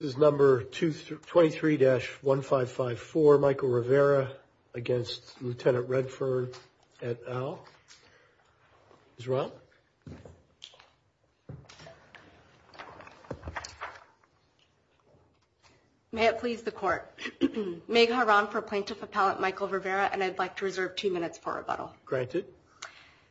This is number 23-1554 Michael Rivera against Lieutenant Redfern Etal. Ms. Rao. May it please the court. Meg Haran for Plaintiff Appellant Michael Rivera, and I'd like to reserve two minutes for rebuttal. Granted.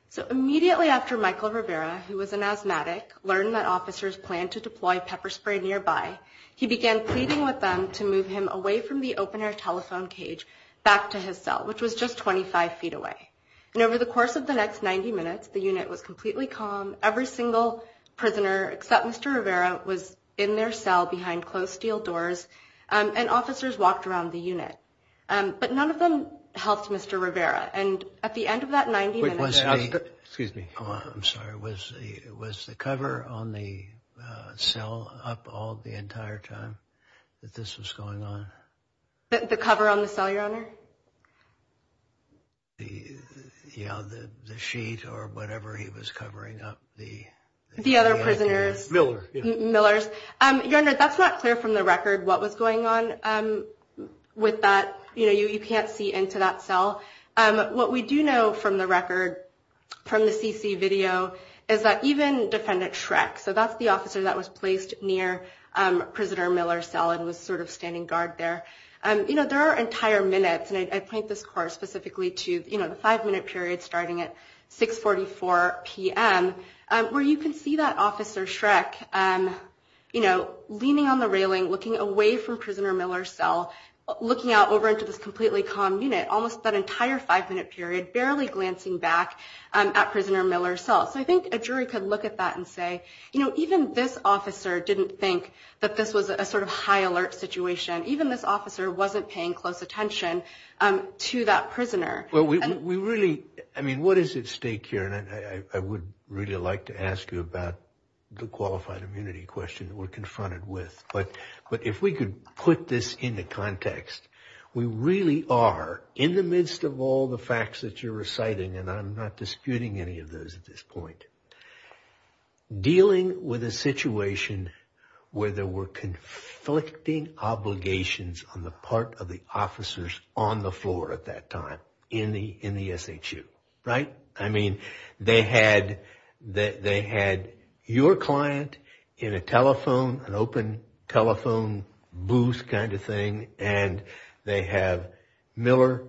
So immediately after Michael Rivera, who was an asthmatic, learned that officers planned to deploy pepper spray nearby, he began pleading with them to move him away from the open air telephone cage back to his cell, which was just 25 feet away. And over the course of the next 90 minutes, the unit was completely calm. Every single prisoner, except Mr. Rivera, was in their cell behind closed steel doors, and officers walked around the unit. But none of them helped Mr. Rivera. And at the end of that 90 minutes... Excuse me. I'm sorry. Was the cover on the cell up all the entire time that this was going on? The cover on the cell, Your Honor? The, you know, the sheet or whatever he was covering up the... The other prisoners. Miller. Miller's. Your Honor, that's not clear from the record what was going on with that. You know, you can't see into that cell. What we do know from the record, from the CC video, is that even Defendant Schreck, so that's the officer that was placed near Prisoner Miller's cell and was sort of standing guard there. You know, there are entire minutes, and I point this course specifically to, you know, the five-minute period starting at 644 p.m., where you can see that Officer Schreck, you know, leaning on the railing, looking away from Prisoner Miller's cell, looking out over into this completely calm unit, almost that entire five-minute period, barely glancing back at Prisoner Miller's cell. So I think a jury could look at that and say, you know, even this officer didn't think that this was a sort of high alert situation. Even this officer wasn't paying close attention to that prisoner. Well, we really, I mean, what is at stake here? And I would really like to ask you about the qualified immunity question that we're confronted with. But if we could put this into context, we really are, in the midst of all the facts that you're reciting, and I'm not disputing any of those at this point, dealing with a situation where there were conflicting obligations on the part of the officers on the floor at that time in the SHU, right? I mean, they had your client in a telephone, an open telephone booth kind of thing, and they have Miller,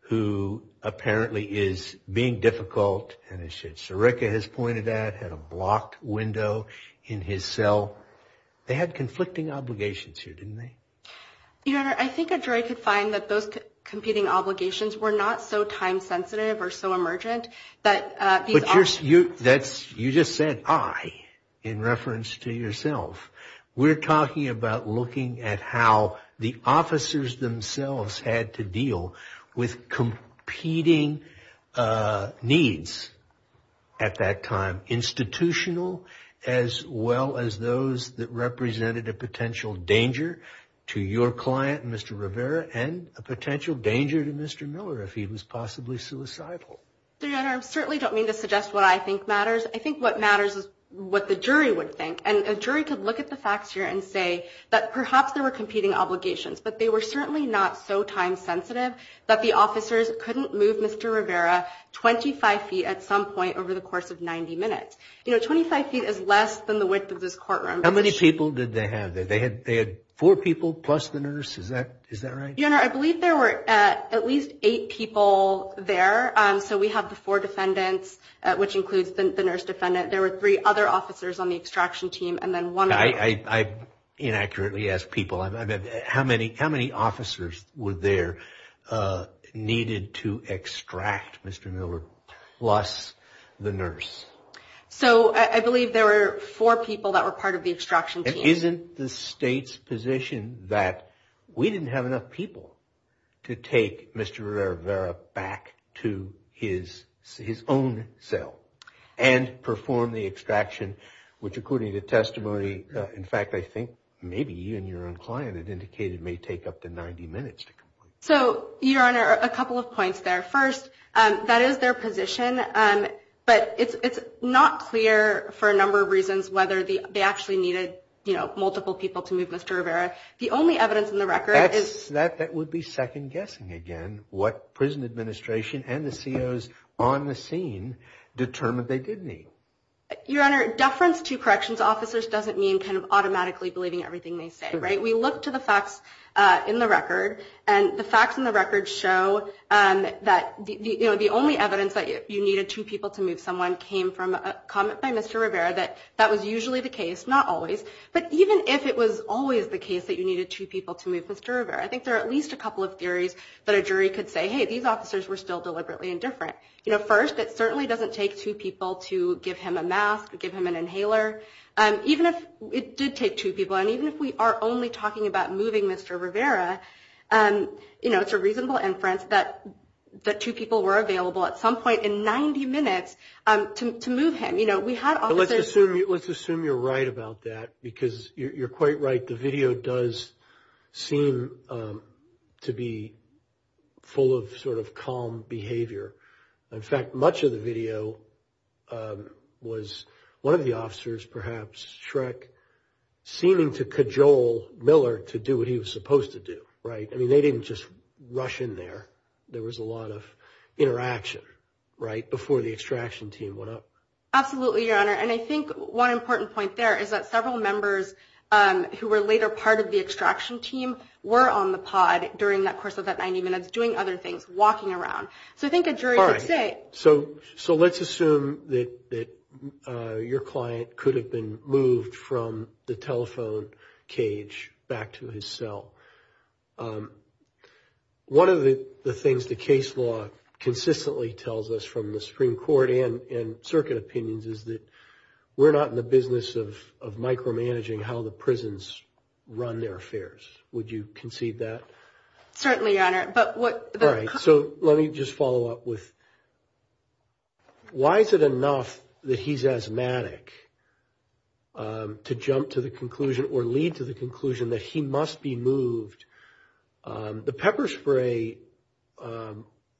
who apparently is being difficult, and as Sherika has pointed out, had a blocked window in his cell. They had conflicting obligations here, didn't they? Your Honor, I think a jury could find that those competing obligations were not so time-sensitive or so emergent that these officers... But you just said, I, in reference to yourself. We're talking about looking at how the officers themselves had to deal with competing needs at that time, institutional, as well as those that represented a potential danger to your client, Mr. Rivera, and a potential danger to Mr. Miller if he was possibly suicidal. Your Honor, I certainly don't mean to suggest what I think matters. I think what matters is what the jury would think. And a jury could look at the facts here and say that perhaps there were competing obligations, but they were certainly not so time-sensitive that the officers couldn't move Mr. Rivera 25 feet at some point over the course of 90 minutes. You know, 25 feet is less than the width of this courtroom. How many people did they have there? They had four people plus the nurse? Is that right? Your Honor, I believe there were at least eight people there. So we have the four defendants, which includes the nurse defendant. There were three other officers on the extraction team, and then one... I inaccurately ask people, how many officers were there needed to extract Mr. Miller plus the nurse? So I believe there were four people that were part of the extraction team. Isn't the state's position that we didn't have enough people to take Mr. Rivera back to his own cell and perform the extraction, which according to testimony, in fact, I think maybe even your own client had indicated may take up to 90 minutes to complete? So, Your Honor, a couple of points there. First, that is their position, but it's not clear for a number of reasons whether they actually needed, you know, multiple people to move Mr. Rivera. The only evidence in the record is... That would be second guessing again, what prison administration and the COs on the scene determined they did need. Your Honor, deference to corrections officers doesn't mean kind of automatically believing everything they say, right? We look to the facts in the record, and the facts in the record show that, you know, the only evidence that you needed two people to move someone came from a comment by Mr. Rivera that that was usually the case, not always. But even if it was always the case that you needed two people to move Mr. Rivera, I think there are at least a couple of theories that a jury could say, hey, these officers were still deliberately indifferent. You know, first, it certainly doesn't take two people to give him a mask, give him an inhaler. Even if it did take two people, and even if we are only talking about moving Mr. Rivera, you know, it's a reasonable inference that two people were available at some point in 90 minutes to move him. You know, we had officers... Let's assume you're right about that, because you're quite right. The video does seem to be full of sort of calm behavior. In fact, much of the video was one of the officers, perhaps, Shrek, seeming to cajole Miller to do what he was supposed to do, right? I mean, they didn't just rush in there. There was a lot of interaction, right, before the extraction team went up. Absolutely, Your Honor. And I think one important point there is that several members who were later part of the extraction team were on the pod during that course of that 90 minutes, doing other things, walking around. So I think a jury could say... All right, so let's assume that your client could have been moved from the telephone cage back to his cell. One of the things the case law consistently tells us, from the Supreme Court and circuit opinions, is that we're not in the business of micromanaging how the prisons run their affairs. Would you concede that? Certainly, Your Honor, but what... All right, so let me just follow up with, why is it enough that he's asthmatic to jump to the conclusion or lead to the conclusion that he must be moved? The pepper spray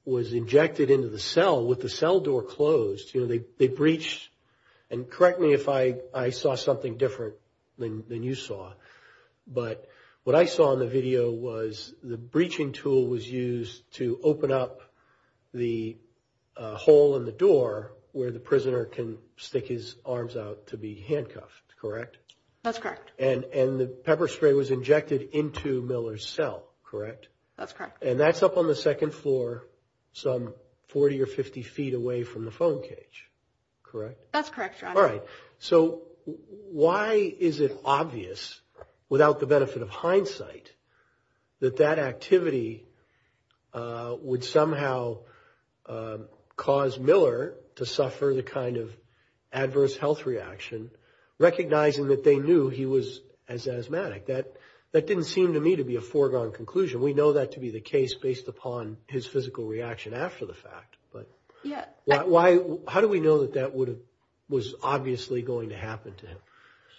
was injected into the cell with the cell door closed. You know, they breached, and correct me if I saw something different than you saw, but what I saw in the video was the breaching tool was used to open up the hole in the door where the prisoner can stick his arms out to be handcuffed, correct? That's correct. And the pepper spray was injected into Miller's cell, correct? That's correct. And that's up on the second floor, some 40 or 50 feet away from the phone cage, correct? That's correct, Your Honor. All right, so why is it obvious, without the benefit of hindsight, that that activity would somehow cause Miller to suffer the kind of adverse health reaction, recognizing that they knew he was as asthmatic? That didn't seem to me to be a foregone conclusion. We know that to be the case based upon his physical reaction after the fact. But how do we know that that was obviously going to happen to him?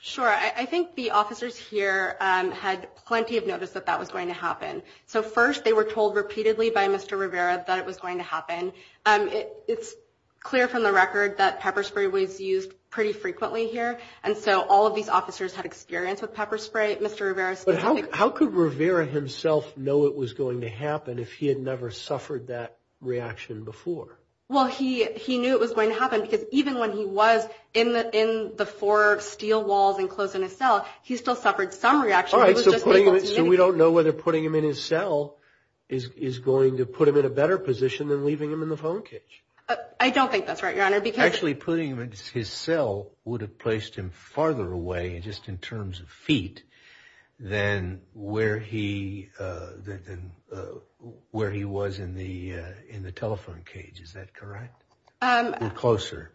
Sure, I think the officers here had plenty of notice that that was going to happen. So first, they were told repeatedly by Mr. Rivera that it was going to happen. It's clear from the record that pepper spray was used pretty frequently here, and so all of these officers had experience with pepper spray. But how could Rivera himself know it was going to happen if he had never suffered that reaction before? Well, he knew it was going to happen because even when he was in the four steel walls enclosed in his cell, he still suffered some reaction. All right, so we don't know whether putting him in his cell is going to put him in a better position than leaving him in the phone cage. I don't think that's right, Your Honor. Actually, putting him in his cell would have placed him farther away just in terms of feet than where he was in the telephone cage. Is that correct? Or closer?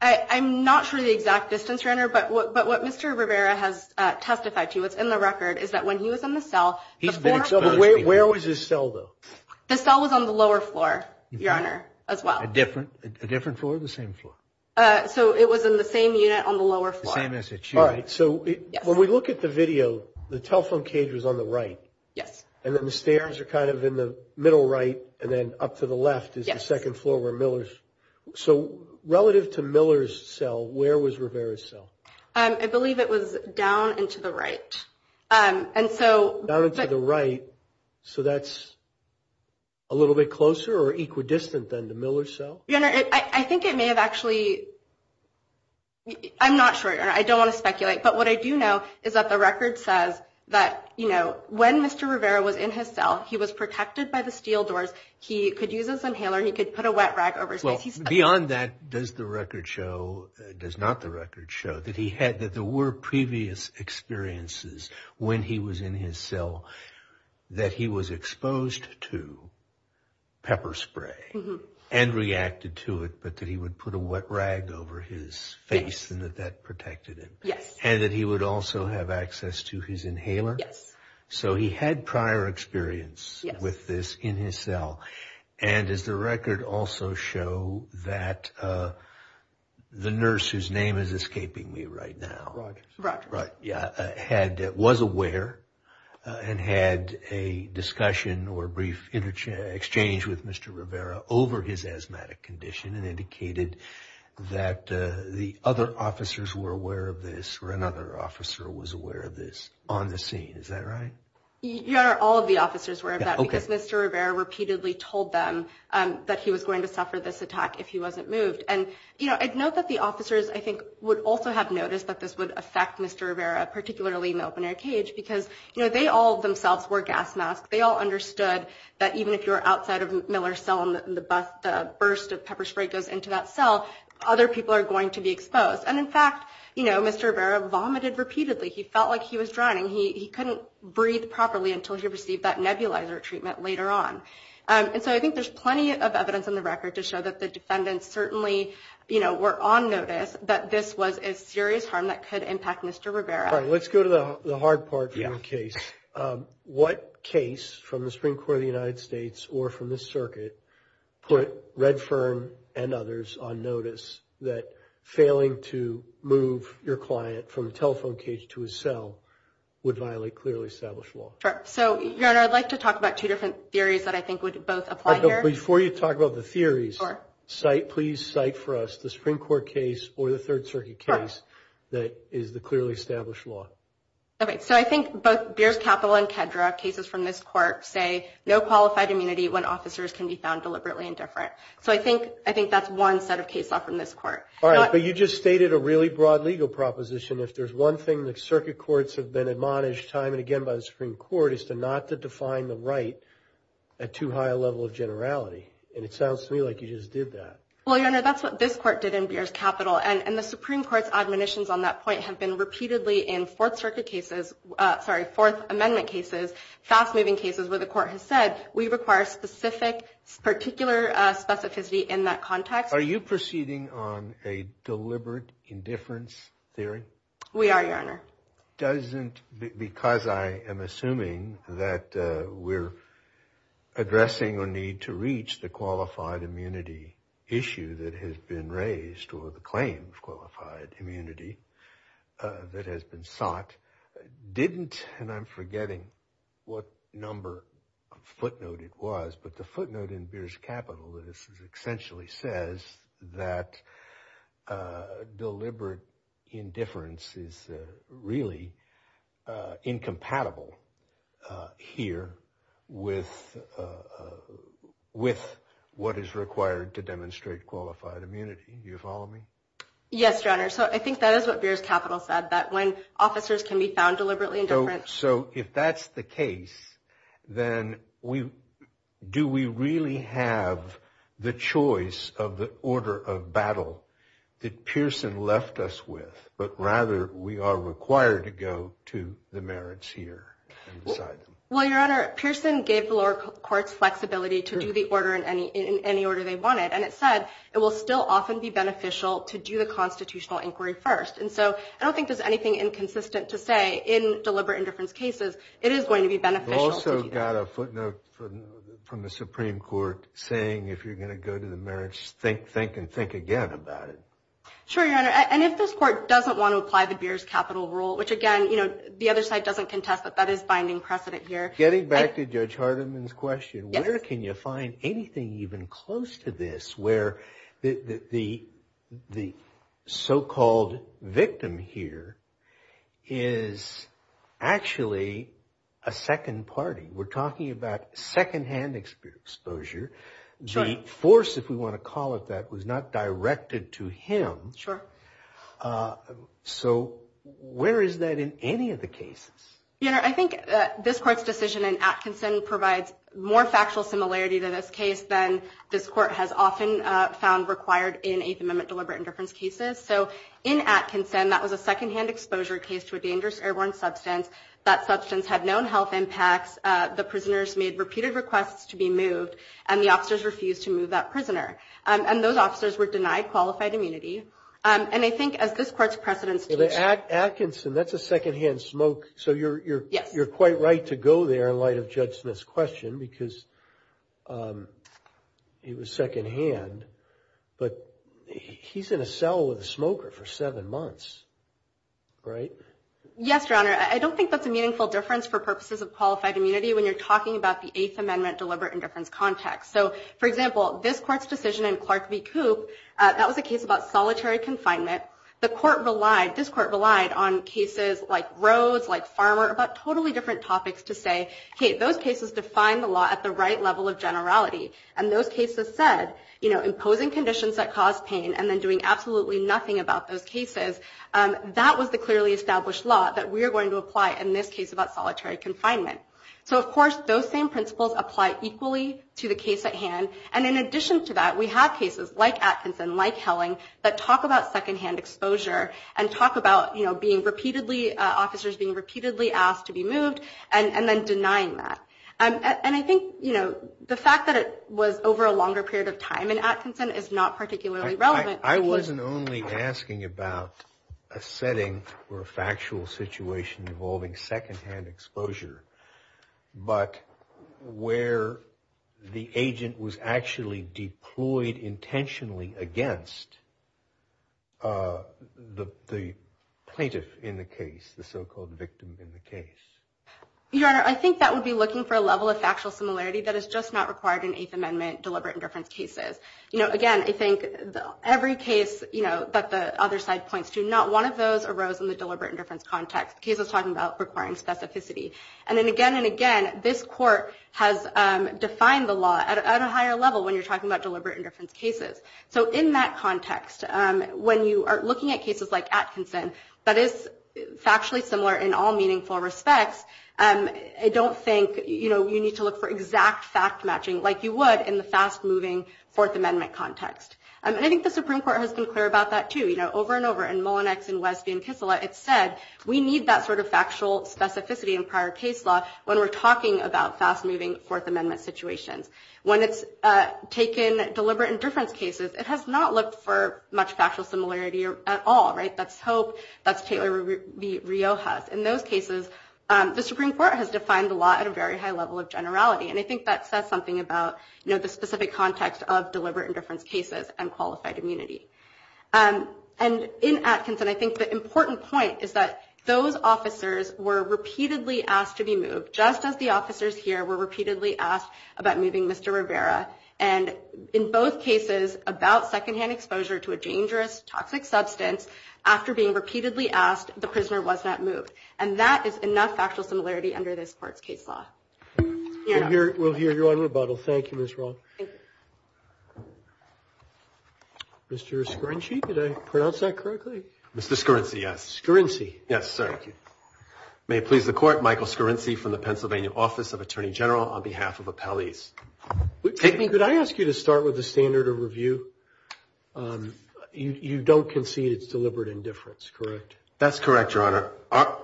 I'm not sure the exact distance, Your Honor. But what Mr. Rivera has testified to, what's in the record, is that when he was in the cell. He's been exposed. Where was his cell, though? The cell was on the lower floor, Your Honor, as well. A different floor or the same floor? So it was in the same unit on the lower floor. The same as it should. All right. So when we look at the video, the telephone cage was on the right. Yes. And then the stairs are kind of in the middle right and then up to the left is the second floor where Miller's. So relative to Miller's cell, where was Rivera's cell? I believe it was down and to the right. And so. Down and to the right. So that's a little bit closer or equidistant than the Miller's cell? Your Honor, I think it may have actually. I'm not sure, Your Honor. I don't want to speculate. But what I do know is that the record says that, you know, when Mr. Rivera was in his cell, he was protected by the steel doors. He could use his inhaler. He could put a wet rag over his face. Beyond that, does the record show, does not the record show that he had, that there were previous experiences when he was in his cell, that he was exposed to pepper spray and reacted to it, but that he would put a wet rag over his face and that that protected him. Yes. And that he would also have access to his inhaler. Yes. So he had prior experience with this in his cell. And does the record also show that the nurse, whose name is escaping me right now, had, was aware and had a discussion or brief exchange with Mr. Rivera over his asthmatic condition and indicated that the other officers were aware of this or another officer was aware of this on the scene. Is that right? Your Honor, all of the officers were aware of that. Because Mr. Rivera repeatedly told them that he was going to suffer this attack if he wasn't moved. And, you know, I'd note that the officers, I think, would also have noticed that this would affect Mr. Rivera, particularly in the open-air cage, because, you know, they all themselves wore gas masks. They all understood that even if you're outside of Miller's cell and the burst of pepper spray goes into that cell, other people are going to be exposed. And in fact, you know, Mr. Rivera vomited repeatedly. He felt like he was drowning. He couldn't breathe properly until he received that nebulizer treatment later on. And so I think there's plenty of evidence in the record to show that the defendants certainly, you know, were on notice that this was a serious harm that could impact Mr. Rivera. All right. Let's go to the hard part of the case. What case from the Supreme Court of the United States or from this circuit put Redfern and others on notice that failing to move your client from the telephone cage to his cell would violate clearly established law? Sure. So, Your Honor, I'd like to talk about two different theories that I think would both apply here. Before you talk about the theories, please cite for us the Supreme Court case or the Third Circuit case that is the clearly established law. All right. So I think both Beers Capital and Kedra cases from this court say no qualified immunity when officers can be found deliberately indifferent. So I think I think that's one set of case law from this court. All right. But you just stated a really broad legal proposition. If there's one thing that circuit courts have been admonished time and again by the Supreme Court is to not to define the right at too high a level of generality. And it sounds to me like you just did that. Well, Your Honor, that's what this court did in Beers Capital. And the Supreme Court's admonitions on that point have been repeatedly in Fourth Circuit cases. Sorry, Fourth Amendment cases, fast moving cases where the court has said we require specific particular specificity in that context. Are you proceeding on a deliberate indifference theory? We are, Your Honor. The court doesn't, because I am assuming that we're addressing a need to reach the qualified immunity issue that has been raised or the claim of qualified immunity that has been sought, didn't, and I'm forgetting what number footnote it was, but the footnote in Beers Capital, this essentially says that deliberate indifference is really incompatible here with what is required to demonstrate qualified immunity. Do you follow me? Yes, Your Honor. So I think that is what Beers Capital said, that when officers can be found deliberately indifferent. So if that's the case, then do we really have the choice of the order of battle that Pearson left us with? But rather, we are required to go to the merits here and decide. Well, Your Honor, Pearson gave the lower courts flexibility to do the order in any order they wanted. And it said it will still often be beneficial to do the constitutional inquiry first. And so I don't think there's anything inconsistent to say in deliberate indifference cases. It is going to be beneficial. You also got a footnote from the Supreme Court saying if you're going to go to the merits, think, think and think again about it. Sure, Your Honor. And if this court doesn't want to apply the Beers Capital rule, which again, you know, the other side doesn't contest, but that is binding precedent here. Getting back to Judge Hardiman's question, where can you find anything even close to this where the so-called victim here is actually a second party? We're talking about secondhand exposure. The force, if we want to call it that, was not directed to him. Sure. So where is that in any of the cases? Your Honor, I think this court's decision in Atkinson provides more factual similarity to this case than this court has often found required in Eighth Amendment deliberate indifference cases. So in Atkinson, that was a secondhand exposure case to a dangerous airborne substance. That substance had known health impacts. The prisoners made repeated requests to be moved and the officers refused to move that prisoner and those officers were denied qualified immunity. And I think as this court's precedent states... Atkinson, that's a secondhand smoke. So you're quite right to go there in light of Judge Smith's question because it was secondhand. But he's in a cell with a smoker for seven months, right? Yes, Your Honor. I don't think that's a meaningful difference for purposes of qualified immunity when you're talking about the Eighth Amendment deliberate indifference context. So, for example, this court's decision in Clark v. Coop, that was a case about solitary confinement. This court relied on cases like Rhodes, like Farmer, about totally different topics to say, hey, those cases define the law at the right level of generality. And those cases said, you know, imposing conditions that cause pain and then doing absolutely nothing about those cases. That was the clearly established law that we are going to apply in this case about solitary confinement. So, of course, those same principles apply equally to the case at hand. And in addition to that, we have cases like Atkinson, like Helling, that talk about secondhand exposure and talk about officers being repeatedly asked to be moved and then denying that. And I think, you know, the fact that it was over a longer period of time in Atkinson is not particularly relevant. I wasn't only asking about a setting or a factual situation involving secondhand exposure, but where the agent was actually deployed intentionally against the plaintiff in the case, the so-called victim in the case. Your Honor, I think that would be looking for a level of factual similarity that is just not required in Eighth Amendment deliberate indifference cases. You know, again, I think every case, you know, that the other side points to, not one of those arose in the deliberate indifference context. The case was talking about requiring specificity. And then again and again, this court has defined the law at a higher level when you're talking about deliberate indifference cases. So in that context, when you are looking at cases like Atkinson, that is factually similar in all meaningful respects. I don't think, you know, you need to look for exact fact-matching like you would in the fast-moving Fourth Amendment context. And I think the Supreme Court has been clear about that, too. You know, over and over in Mullinex and Westby and Kissela, it said we need that sort of factual specificity in prior case law when we're talking about fast-moving Fourth Amendment situations. When it's taken deliberate indifference cases, it has not looked for much factual similarity at all, right? That's Hope, that's Taylor v. Riojas. In those cases, the Supreme Court has defined the law at a very high level of generality. And I think that says something about, you know, the specific context of deliberate indifference cases and qualified immunity. And in Atkinson, I think the important point is that those officers were repeatedly asked to be moved, just as the officers here were repeatedly asked about moving Mr. Rivera. And in both cases, about secondhand exposure to a dangerous, toxic substance, after being repeatedly asked, the prisoner was not moved. And that is enough factual similarity under this Court's case law. We'll hear you on rebuttal. Thank you, Ms. Roth. Mr. Scorinci, did I pronounce that correctly? Mr. Scorinci, yes. Scorinci. Yes, sir. Thank you. May it please the Court, Michael Scorinci from the Pennsylvania Office of Attorney General on behalf of Appellees. Could I ask you to start with the standard of review? You don't concede it's deliberate indifference, correct? That's correct, Your Honor.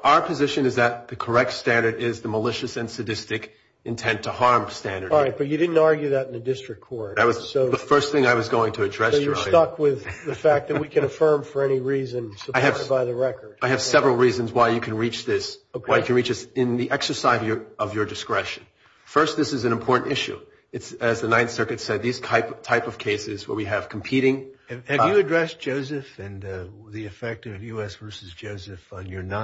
Our position is that the correct standard is the malicious and sadistic intent to harm standard. All right. But you didn't argue that in the district court. That was the first thing I was going to address, Your Honor. So you're stuck with the fact that we can affirm for any reason supported by the record. I have several reasons why you can reach this in the exercise of your discretion. First, this is an important issue. It's, as the Ninth Circuit said, these type of cases where we have competing... not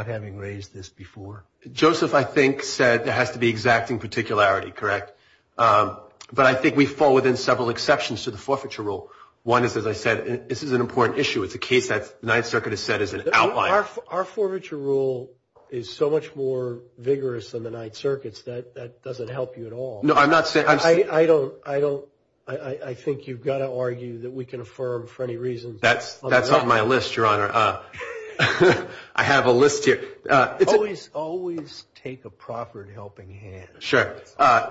having raised this before. Joseph, I think, said there has to be exacting particularity, correct? But I think we fall within several exceptions to the forfeiture rule. One is, as I said, this is an important issue. It's a case that the Ninth Circuit has said is an outlier. Our forfeiture rule is so much more vigorous than the Ninth Circuit's that that doesn't help you at all. No, I'm not saying... I don't... I think you've got to argue that we can affirm for any reason... That's on my list, Your Honor. I have a list here. Always, always take a proffered helping hand. Sure.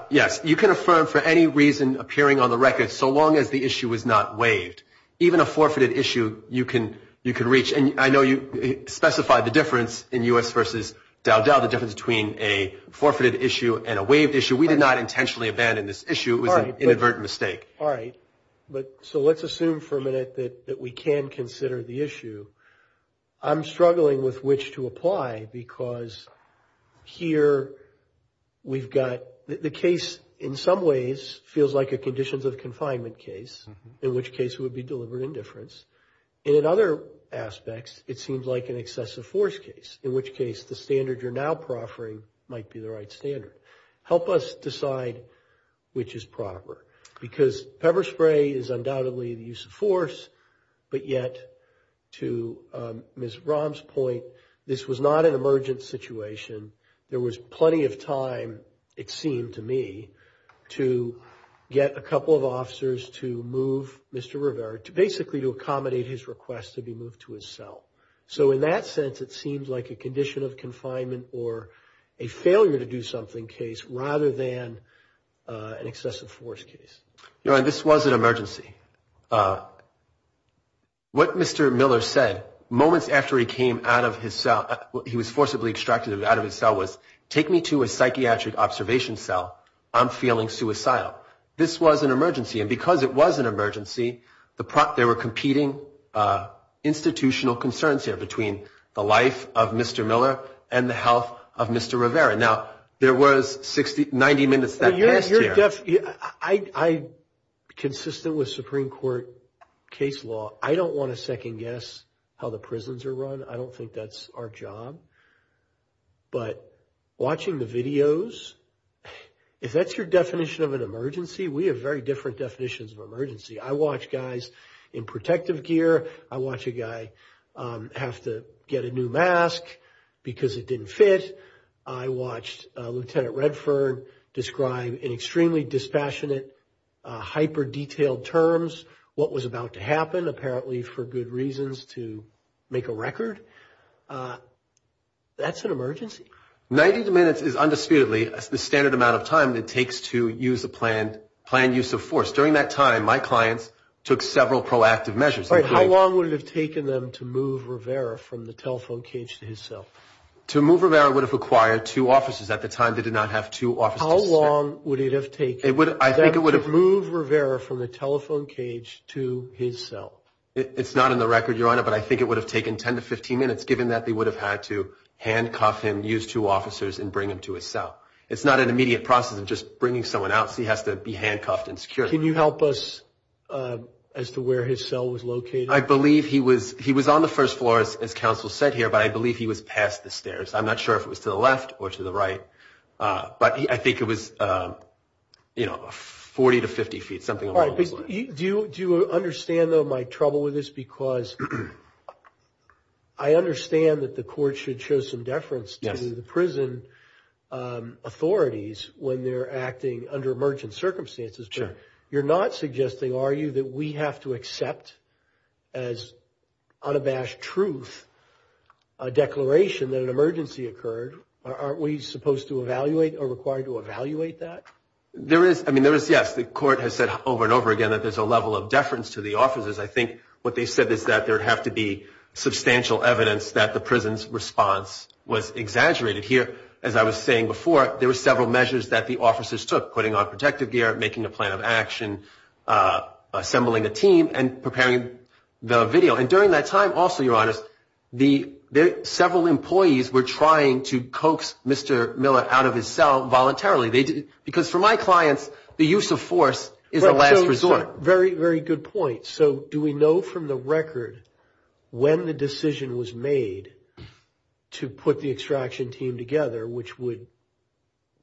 Yes, you can affirm for any reason appearing on the record so long as the issue is not waived. Even a forfeited issue, you can reach. And I know you specified the difference in U.S. v. Dowdell, the difference between a forfeited issue and a waived issue. We did not intentionally abandon this issue. It was an inadvertent mistake. All right. But so let's assume for a minute that we can consider the issue. I'm struggling with which to apply because here we've got... The case in some ways feels like a conditions of confinement case, in which case it would be delivered indifference. And in other aspects, it seems like an excessive force case, in which case the standard you're now proffering might be the right standard. Help us decide which is proper because pepper spray is undoubtedly the use of force, but yet to Ms. Rahm's point, this was not an emergent situation. There was plenty of time, it seemed to me, to get a couple of officers to move Mr. Rivera, to basically to accommodate his request to be moved to his cell. So in that sense, it seems like a condition of confinement or a failure to do something case rather than an excessive force case. Your Honor, this was an emergency. What Mr. Miller said moments after he came out of his cell, he was forcibly extracted out of his cell, was, take me to a psychiatric observation cell. I'm feeling suicidal. This was an emergency and because it was an emergency, there were competing institutional concerns here between the life of Mr. Miller and the health of Mr. Rivera. Now, there was 90 minutes that passed here. Jeff, I'm consistent with Supreme Court case law. I don't want to second guess how the prisons are run. I don't think that's our job. But watching the videos, if that's your definition of an emergency, we have very different definitions of emergency. I watch guys in protective gear. I watch a guy have to get a new mask because it didn't fit. I watched Lieutenant Redford describe in extremely dispassionate, hyper-detailed terms what was about to happen, apparently for good reasons to make a record. That's an emergency. 90 minutes is undisputedly the standard amount of time that takes to use a planned use of force. During that time, my clients took several proactive measures. How long would it have taken them to move Rivera from the telephone cage to his cell? To move Rivera would have required two officers. At the time, they did not have two officers. How long would it have taken them to move Rivera from the telephone cage to his cell? It's not in the record, Your Honor, but I think it would have taken 10 to 15 minutes, given that they would have had to handcuff him, use two officers, and bring him to his cell. It's not an immediate process of just bringing someone out, so he has to be handcuffed and secured. Can you help us as to where his cell was located? I believe he was on the first floor, as counsel said here, but I believe he was past the stairs. I'm not sure if it was to the left or to the right, but I think it was, you know, 40 to 50 feet, something along those lines. Do you understand, though, my trouble with this? Because I understand that the court should show some deference to the prison authorities when they're acting under emergent circumstances, but you're not suggesting, are you, that we have to accept as unabashed truth a declaration that an emergency occurred? Aren't we supposed to evaluate or required to evaluate that? There is, I mean, there is, yes. The court has said over and over again that there's a level of deference to the officers. I think what they said is that there'd have to be substantial evidence that the prison's response was exaggerated. Here, as I was saying before, there were several measures that the officers took, putting on protective gear, making a plan of action, assembling a team, and preparing the video. And during that time, also, Your Honor, several employees were trying to coax Mr. Miller out of his cell voluntarily. Because for my clients, the use of force is a last resort. Very, very good point. So do we know from the record when the decision was made to put the extraction team together, which would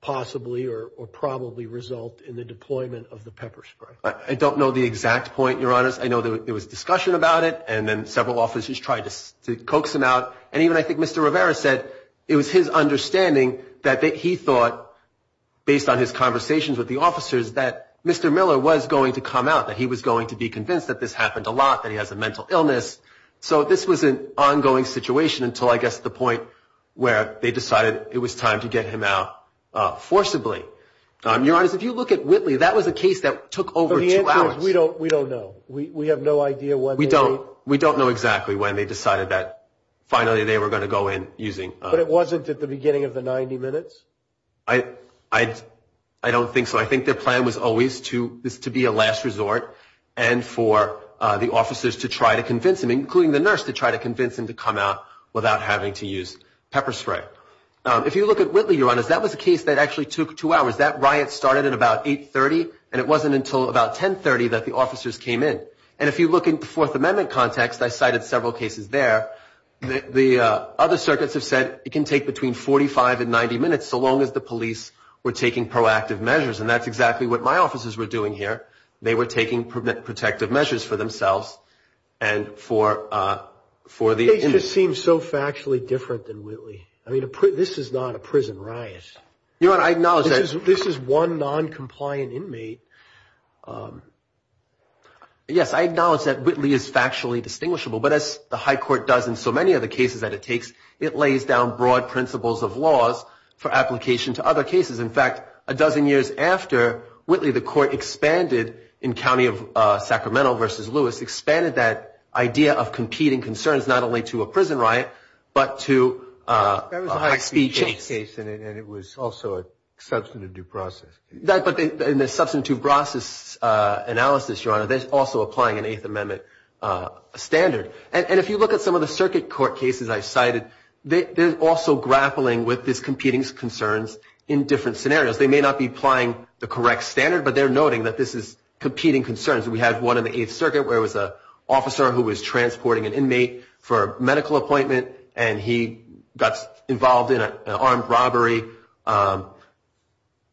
possibly or probably result in the deployment of the pepper spray? I don't know the exact point, Your Honor. I know there was discussion about it, and then several officers tried to coax him out. And even, I think, Mr. Rivera said it was his understanding that he thought, based on his conversations with the officers, that Mr. Miller was going to come out, that he was going to be convinced that this happened a lot, that he has a mental illness. So this was an ongoing situation until, I guess, the point where they decided it was time to get him out forcibly. Your Honor, if you look at Whitley, We don't know. We have no idea whether they- We don't know exactly when they decided that finally they were going to go in using- But it wasn't at the beginning of the 90 minutes? I don't think so. I think their plan was always to be a last resort and for the officers to try to convince him, including the nurse, to try to convince him to come out without having to use pepper spray. If you look at Whitley, Your Honor, that was a case that actually took two hours. That riot started at about 8.30, and it wasn't until about 10.30 that the officers came in. And if you look at the Fourth Amendment context, I cited several cases there. The other circuits have said it can take between 45 and 90 minutes, so long as the police were taking proactive measures. And that's exactly what my officers were doing here. They were taking protective measures for themselves and for the- It just seems so factually different than Whitley. I mean, this is not a prison riot. Your Honor, I acknowledge that- This is one noncompliant inmate. Yes, I acknowledge that Whitley is factually distinguishable, but as the High Court does in so many of the cases that it takes, it lays down broad principles of laws for application to other cases. In fact, a dozen years after Whitley, the Court expanded in County of Sacramento v. Lewis, expanded that idea of competing concerns not only to a prison riot, but to a high-speed chase. That was a high-speed chase case, and it was also a substantive due process. But in the substantive process analysis, Your Honor, they're also applying an Eighth Amendment standard. And if you look at some of the circuit court cases I've cited, they're also grappling with this competing concerns in different scenarios. They may not be applying the correct standard, but they're noting that this is competing concerns. We had one in the Eighth Circuit where it was an officer who was transporting an inmate for a medical appointment, and he got involved in an armed robbery.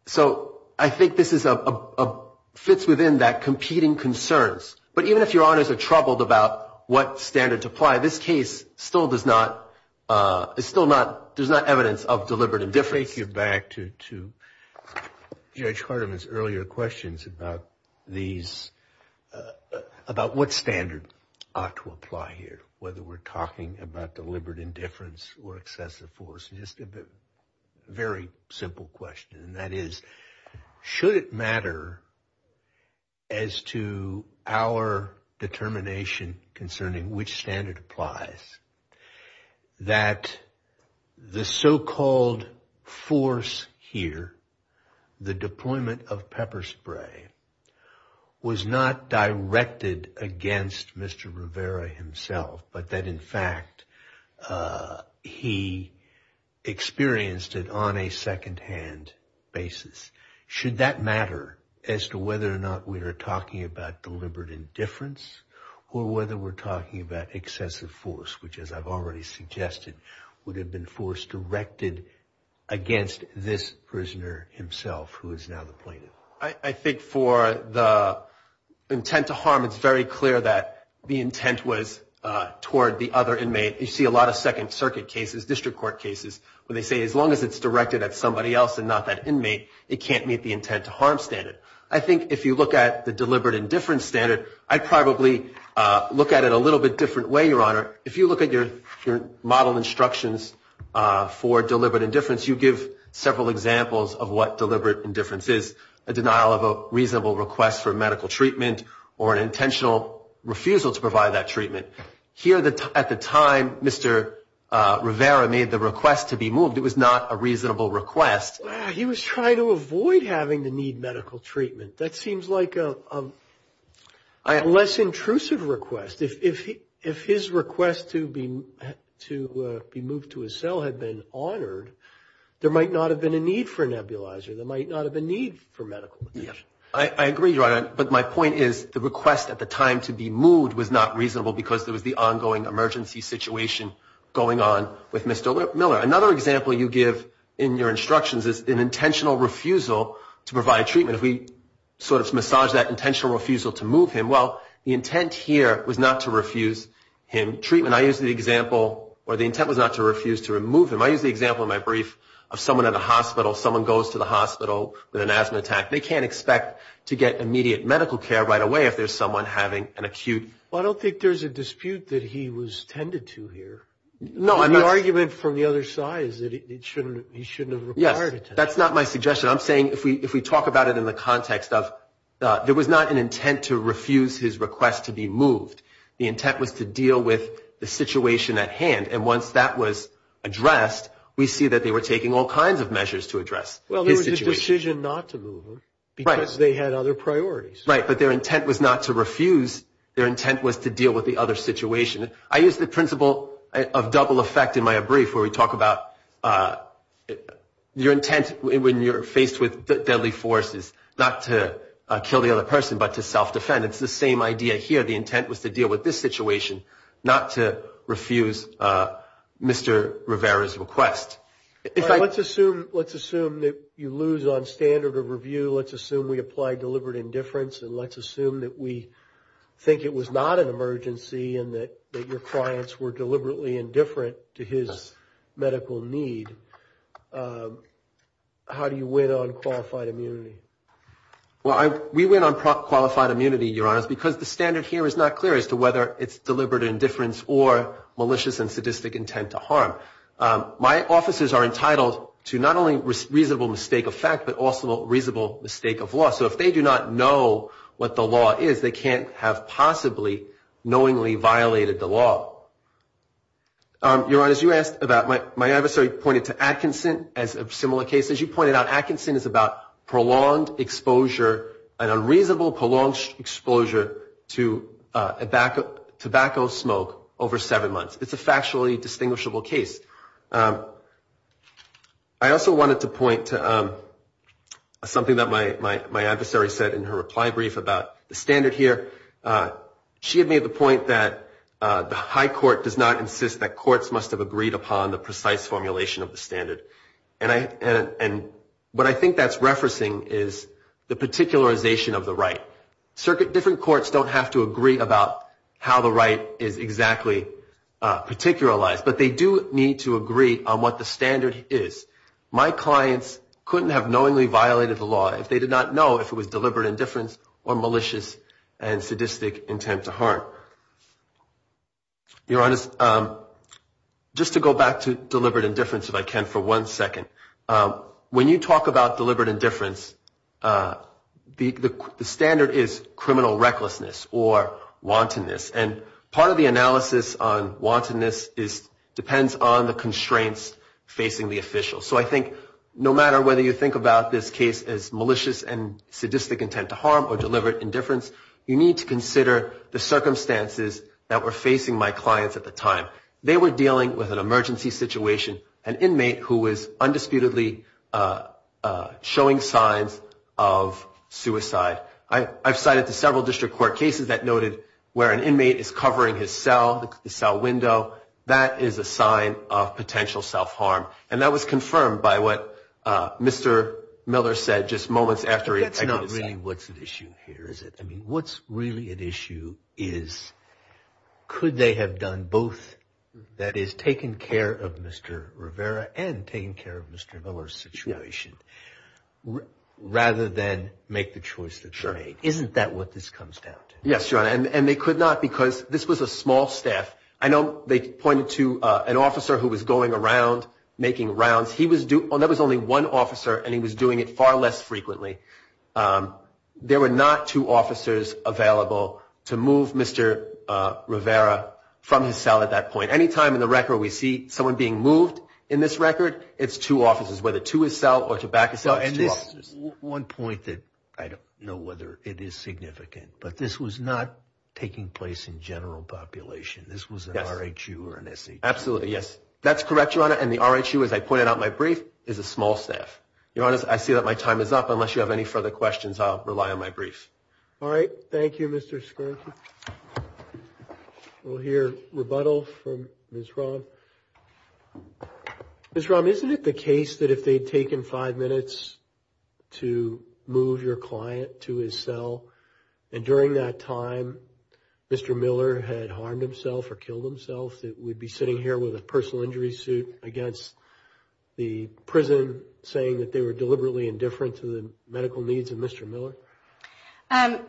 So I think this fits within that competing concerns. But even if Your Honors are troubled about what standard to apply, this case still does not, there's still not evidence of deliberate indifference. Take you back to Judge Hardiman's earlier questions about these, about what standard ought to apply here, whether we're talking about deliberate indifference or excessive force. Just a very simple question, and that is, should it matter as to our determination concerning which standard applies that the so-called force here, the deployment of pepper spray, was not directed against Mr. Rivera himself, but that, in fact, he experienced it on a secondhand basis? Should that matter as to whether or not we are talking about deliberate indifference or whether we're talking about excessive force, which, as I've already suggested, would have been force directed against this prisoner himself, who is now the plaintiff? I think for the intent to harm, it's very clear that the intent was toward the other inmate. You see a lot of Second Circuit cases, district court cases, where they say as long as it's directed at somebody else and not that inmate, it can't meet the intent to harm standard. I think if you look at the deliberate indifference standard, I'd probably look at it a little bit different way, Your Honor. If you look at your model instructions for deliberate indifference, you give several examples of what deliberate indifference is, a denial of a reasonable request for medical treatment or an intentional refusal to provide that treatment. Here, at the time, Mr. Rivera made the request to be moved. It was not a reasonable request. He was trying to avoid having to need medical treatment. That seems like a less intrusive request. If his request to be moved to a cell had been honored, there might not have been a need for nebulizer. There might not have been a need for medical attention. I agree, Your Honor. But my point is the request at the time to be moved was not reasonable because there was the ongoing emergency situation going on with Mr. Miller. Another example you give in your instructions is an intentional refusal to provide treatment. If we sort of massage that intentional refusal to move him, well, the intent here was not to refuse him treatment. I use the example where the intent was not to refuse to remove him. I use the example in my brief of someone at a hospital. Someone goes to the hospital with an asthma attack. They can't expect to get immediate medical care right away if there's someone having an acute... Well, I don't think there's a dispute that he was tended to here. No, I'm not... The argument from the other side is that he shouldn't have required it. Yes, that's not my suggestion. I'm saying if we talk about it in the context of there was not an intent to refuse his request to be moved. The intent was to deal with the situation at hand. And once that was addressed, we see that they were taking all kinds of measures to address his situation. They made the decision not to move him because they had other priorities. Right, but their intent was not to refuse. Their intent was to deal with the other situation. I use the principle of double effect in my brief where we talk about your intent when you're faced with deadly forces, not to kill the other person, but to self-defend. It's the same idea here. The intent was to deal with this situation, not to refuse Mr. Rivera's request. Let's assume that you lose on standard of review. Let's assume we applied deliberate indifference. And let's assume that we think it was not an emergency and that your clients were deliberately indifferent to his medical need. How do you win on qualified immunity? Well, we win on qualified immunity, Your Honor, because the standard here is not clear as to whether it's deliberate indifference or malicious and sadistic intent to harm. My officers are entitled to not only reasonable mistake of fact, but also reasonable mistake of law. So if they do not know what the law is, they can't have possibly knowingly violated the law. Your Honor, as you asked about my adversary pointed to Atkinson as a similar case. As you pointed out, Atkinson is about prolonged exposure, an unreasonable prolonged exposure to tobacco smoke over seven months. It's a factually distinguishable case. I also wanted to point to something that my adversary said in her reply brief about the standard here. She had made the point that the high court does not insist that courts must have agreed upon the precise formulation of the standard. And what I think that's referencing is the particularization of the right. Different courts don't have to agree about how the right is exactly particularized, but they do need to agree on what the standard is. My clients couldn't have knowingly violated the law if they did not know if it was deliberate indifference or malicious and sadistic intent to harm. Your Honor, just to go back to deliberate indifference, if I can, for one second. When you talk about deliberate indifference, the standard is criminal recklessness or wantonness. And part of the analysis on wantonness depends on the constraints facing the official. So I think no matter whether you think about this case as malicious and sadistic intent to harm or deliberate indifference, you need to consider the circumstances that were facing my clients at the time. They were dealing with an emergency situation, an inmate who was undisputedly showing signs of suicide. I've cited the several district court cases that noted where an inmate is covering his cell, the cell window, that is a sign of potential self-harm. And that was confirmed by what Mr. Miller said just moments after he attacked his son. But that's not really what's at issue here, is it? I mean, what's really at issue is, could they have done both, that is, taken care of Mr. Rivera and taken care of Mr. Miller's situation, rather than make the choice that they made? Isn't that what this comes down to? Yes, Your Honor, and they could not because this was a small staff. I know they pointed to an officer who was going around making rounds. He was doing, there was only one officer, and he was doing it far less frequently. There were not two officers available to move Mr. Rivera from his cell at that point. Any time in the record we see someone being moved in this record, it's two officers, whether to his cell or to back his cell, it's two officers. And this is one point that I don't know whether it is significant, but this was not taking place in general population. This was an R.H.U. or an S.E.G. Absolutely, yes. That's correct, Your Honor, and the R.H.U., as I pointed out in my brief, is a small staff. Your Honor, I see that my time is up, unless you have a question. If you have any further questions, I'll rely on my brief. All right. Thank you, Mr. Scroggins. We'll hear rebuttal from Ms. Romm. Ms. Romm, isn't it the case that if they'd taken five minutes to move your client to his cell, and during that time, Mr. Miller had harmed himself or killed himself, that we'd be sitting here with a personal injury suit against the prison, saying that they were deliberately indifferent to the medical needs of Mr. Miller?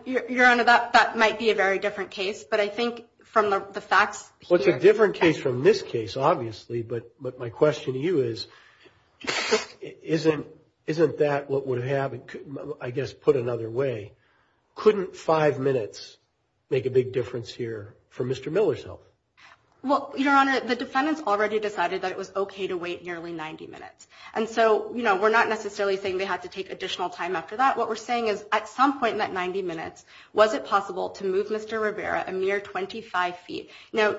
Your Honor, that might be a very different case, but I think from the facts here... Well, it's a different case from this case, obviously, but my question to you is, isn't that what would have, I guess, put another way? Couldn't five minutes make a big difference here for Mr. Miller's health? Well, Your Honor, the defendants already decided that it was okay to wait nearly 90 minutes. And so, you know, we're not necessarily saying they had to take additional time after that. What we're saying is, at some point in that 90 minutes, was it possible to move Mr. Rivera a mere 25 feet? Now,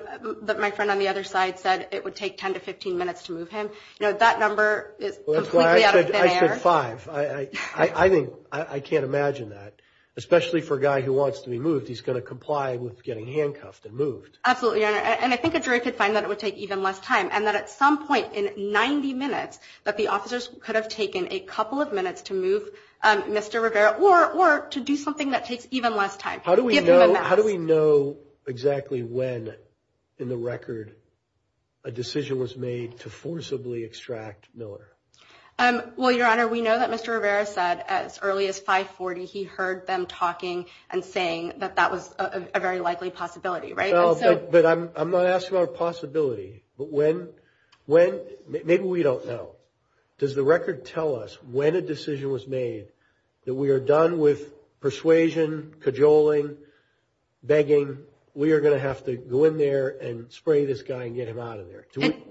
my friend on the other side said it would take 10 to 15 minutes to move him. You know, that number is completely out of thin air. Well, that's why I said five. I think, I can't imagine that. Especially for a guy who wants to be moved, he's going to comply with getting handcuffed and moved. Absolutely, Your Honor. And I think a jury could find that it would take even less time. And that at some point in 90 minutes, that the officers could have taken a couple of minutes to move Mr. Rivera, or to do something that takes even less time. How do we know exactly when in the record a decision was made to forcibly extract Miller? Well, Your Honor, we know that Mr. Rivera said as early as 540, he heard them talking and saying that that was a very likely possibility, right? But I'm not asking about a possibility. But when, when, maybe we don't know. Does the record tell us when a decision was made that we are done with persuasion, cajoling, begging? We are going to have to go in there and spray this guy and get him out of there.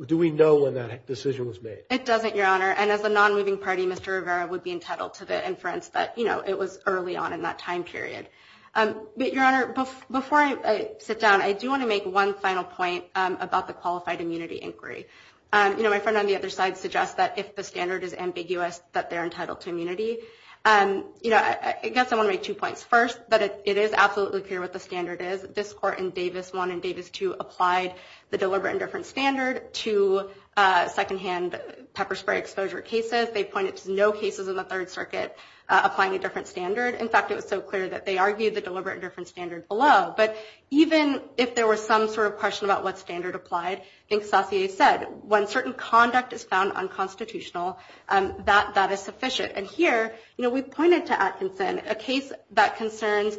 Do we know when that decision was made? It doesn't, Your Honor. And as a non-moving party, Mr. Rivera would be entitled to the inference that, you know, it was early on in that time period. But Your Honor, before I sit down, I do want to make one final point about the qualified immunity inquiry. You know, my friend on the other side suggests that if the standard is ambiguous, that they're entitled to immunity. You know, I guess I want to make two points. First, that it is absolutely clear what the standard is. This court in Davis I and Davis II applied the deliberate and different standard to secondhand pepper spray exposure cases. They pointed to no cases in the Third Circuit applying a different standard. In fact, it was so clear that they argued the deliberate and different standard below. But even if there was some sort of question about what standard applied, I think Saussure said, when certain conduct is found unconstitutional, that is sufficient. And here, you know, we pointed to Atkinson, a case that concerns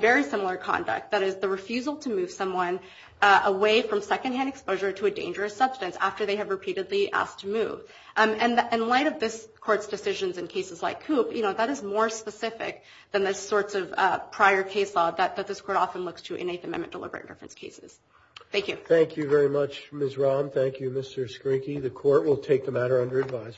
very similar conduct, that is the refusal to move someone away from secondhand exposure to a dangerous substance after they have repeatedly asked to move. And in light of this court's decisions in cases like Coop, you know, that is more specific than the sorts of prior case law that this court often looks to in Eighth Amendment deliberate and different cases. Thank you. Thank you very much, Ms. Rahm. Thank you, Mr. Skrinky. The court will take the matter under advisory.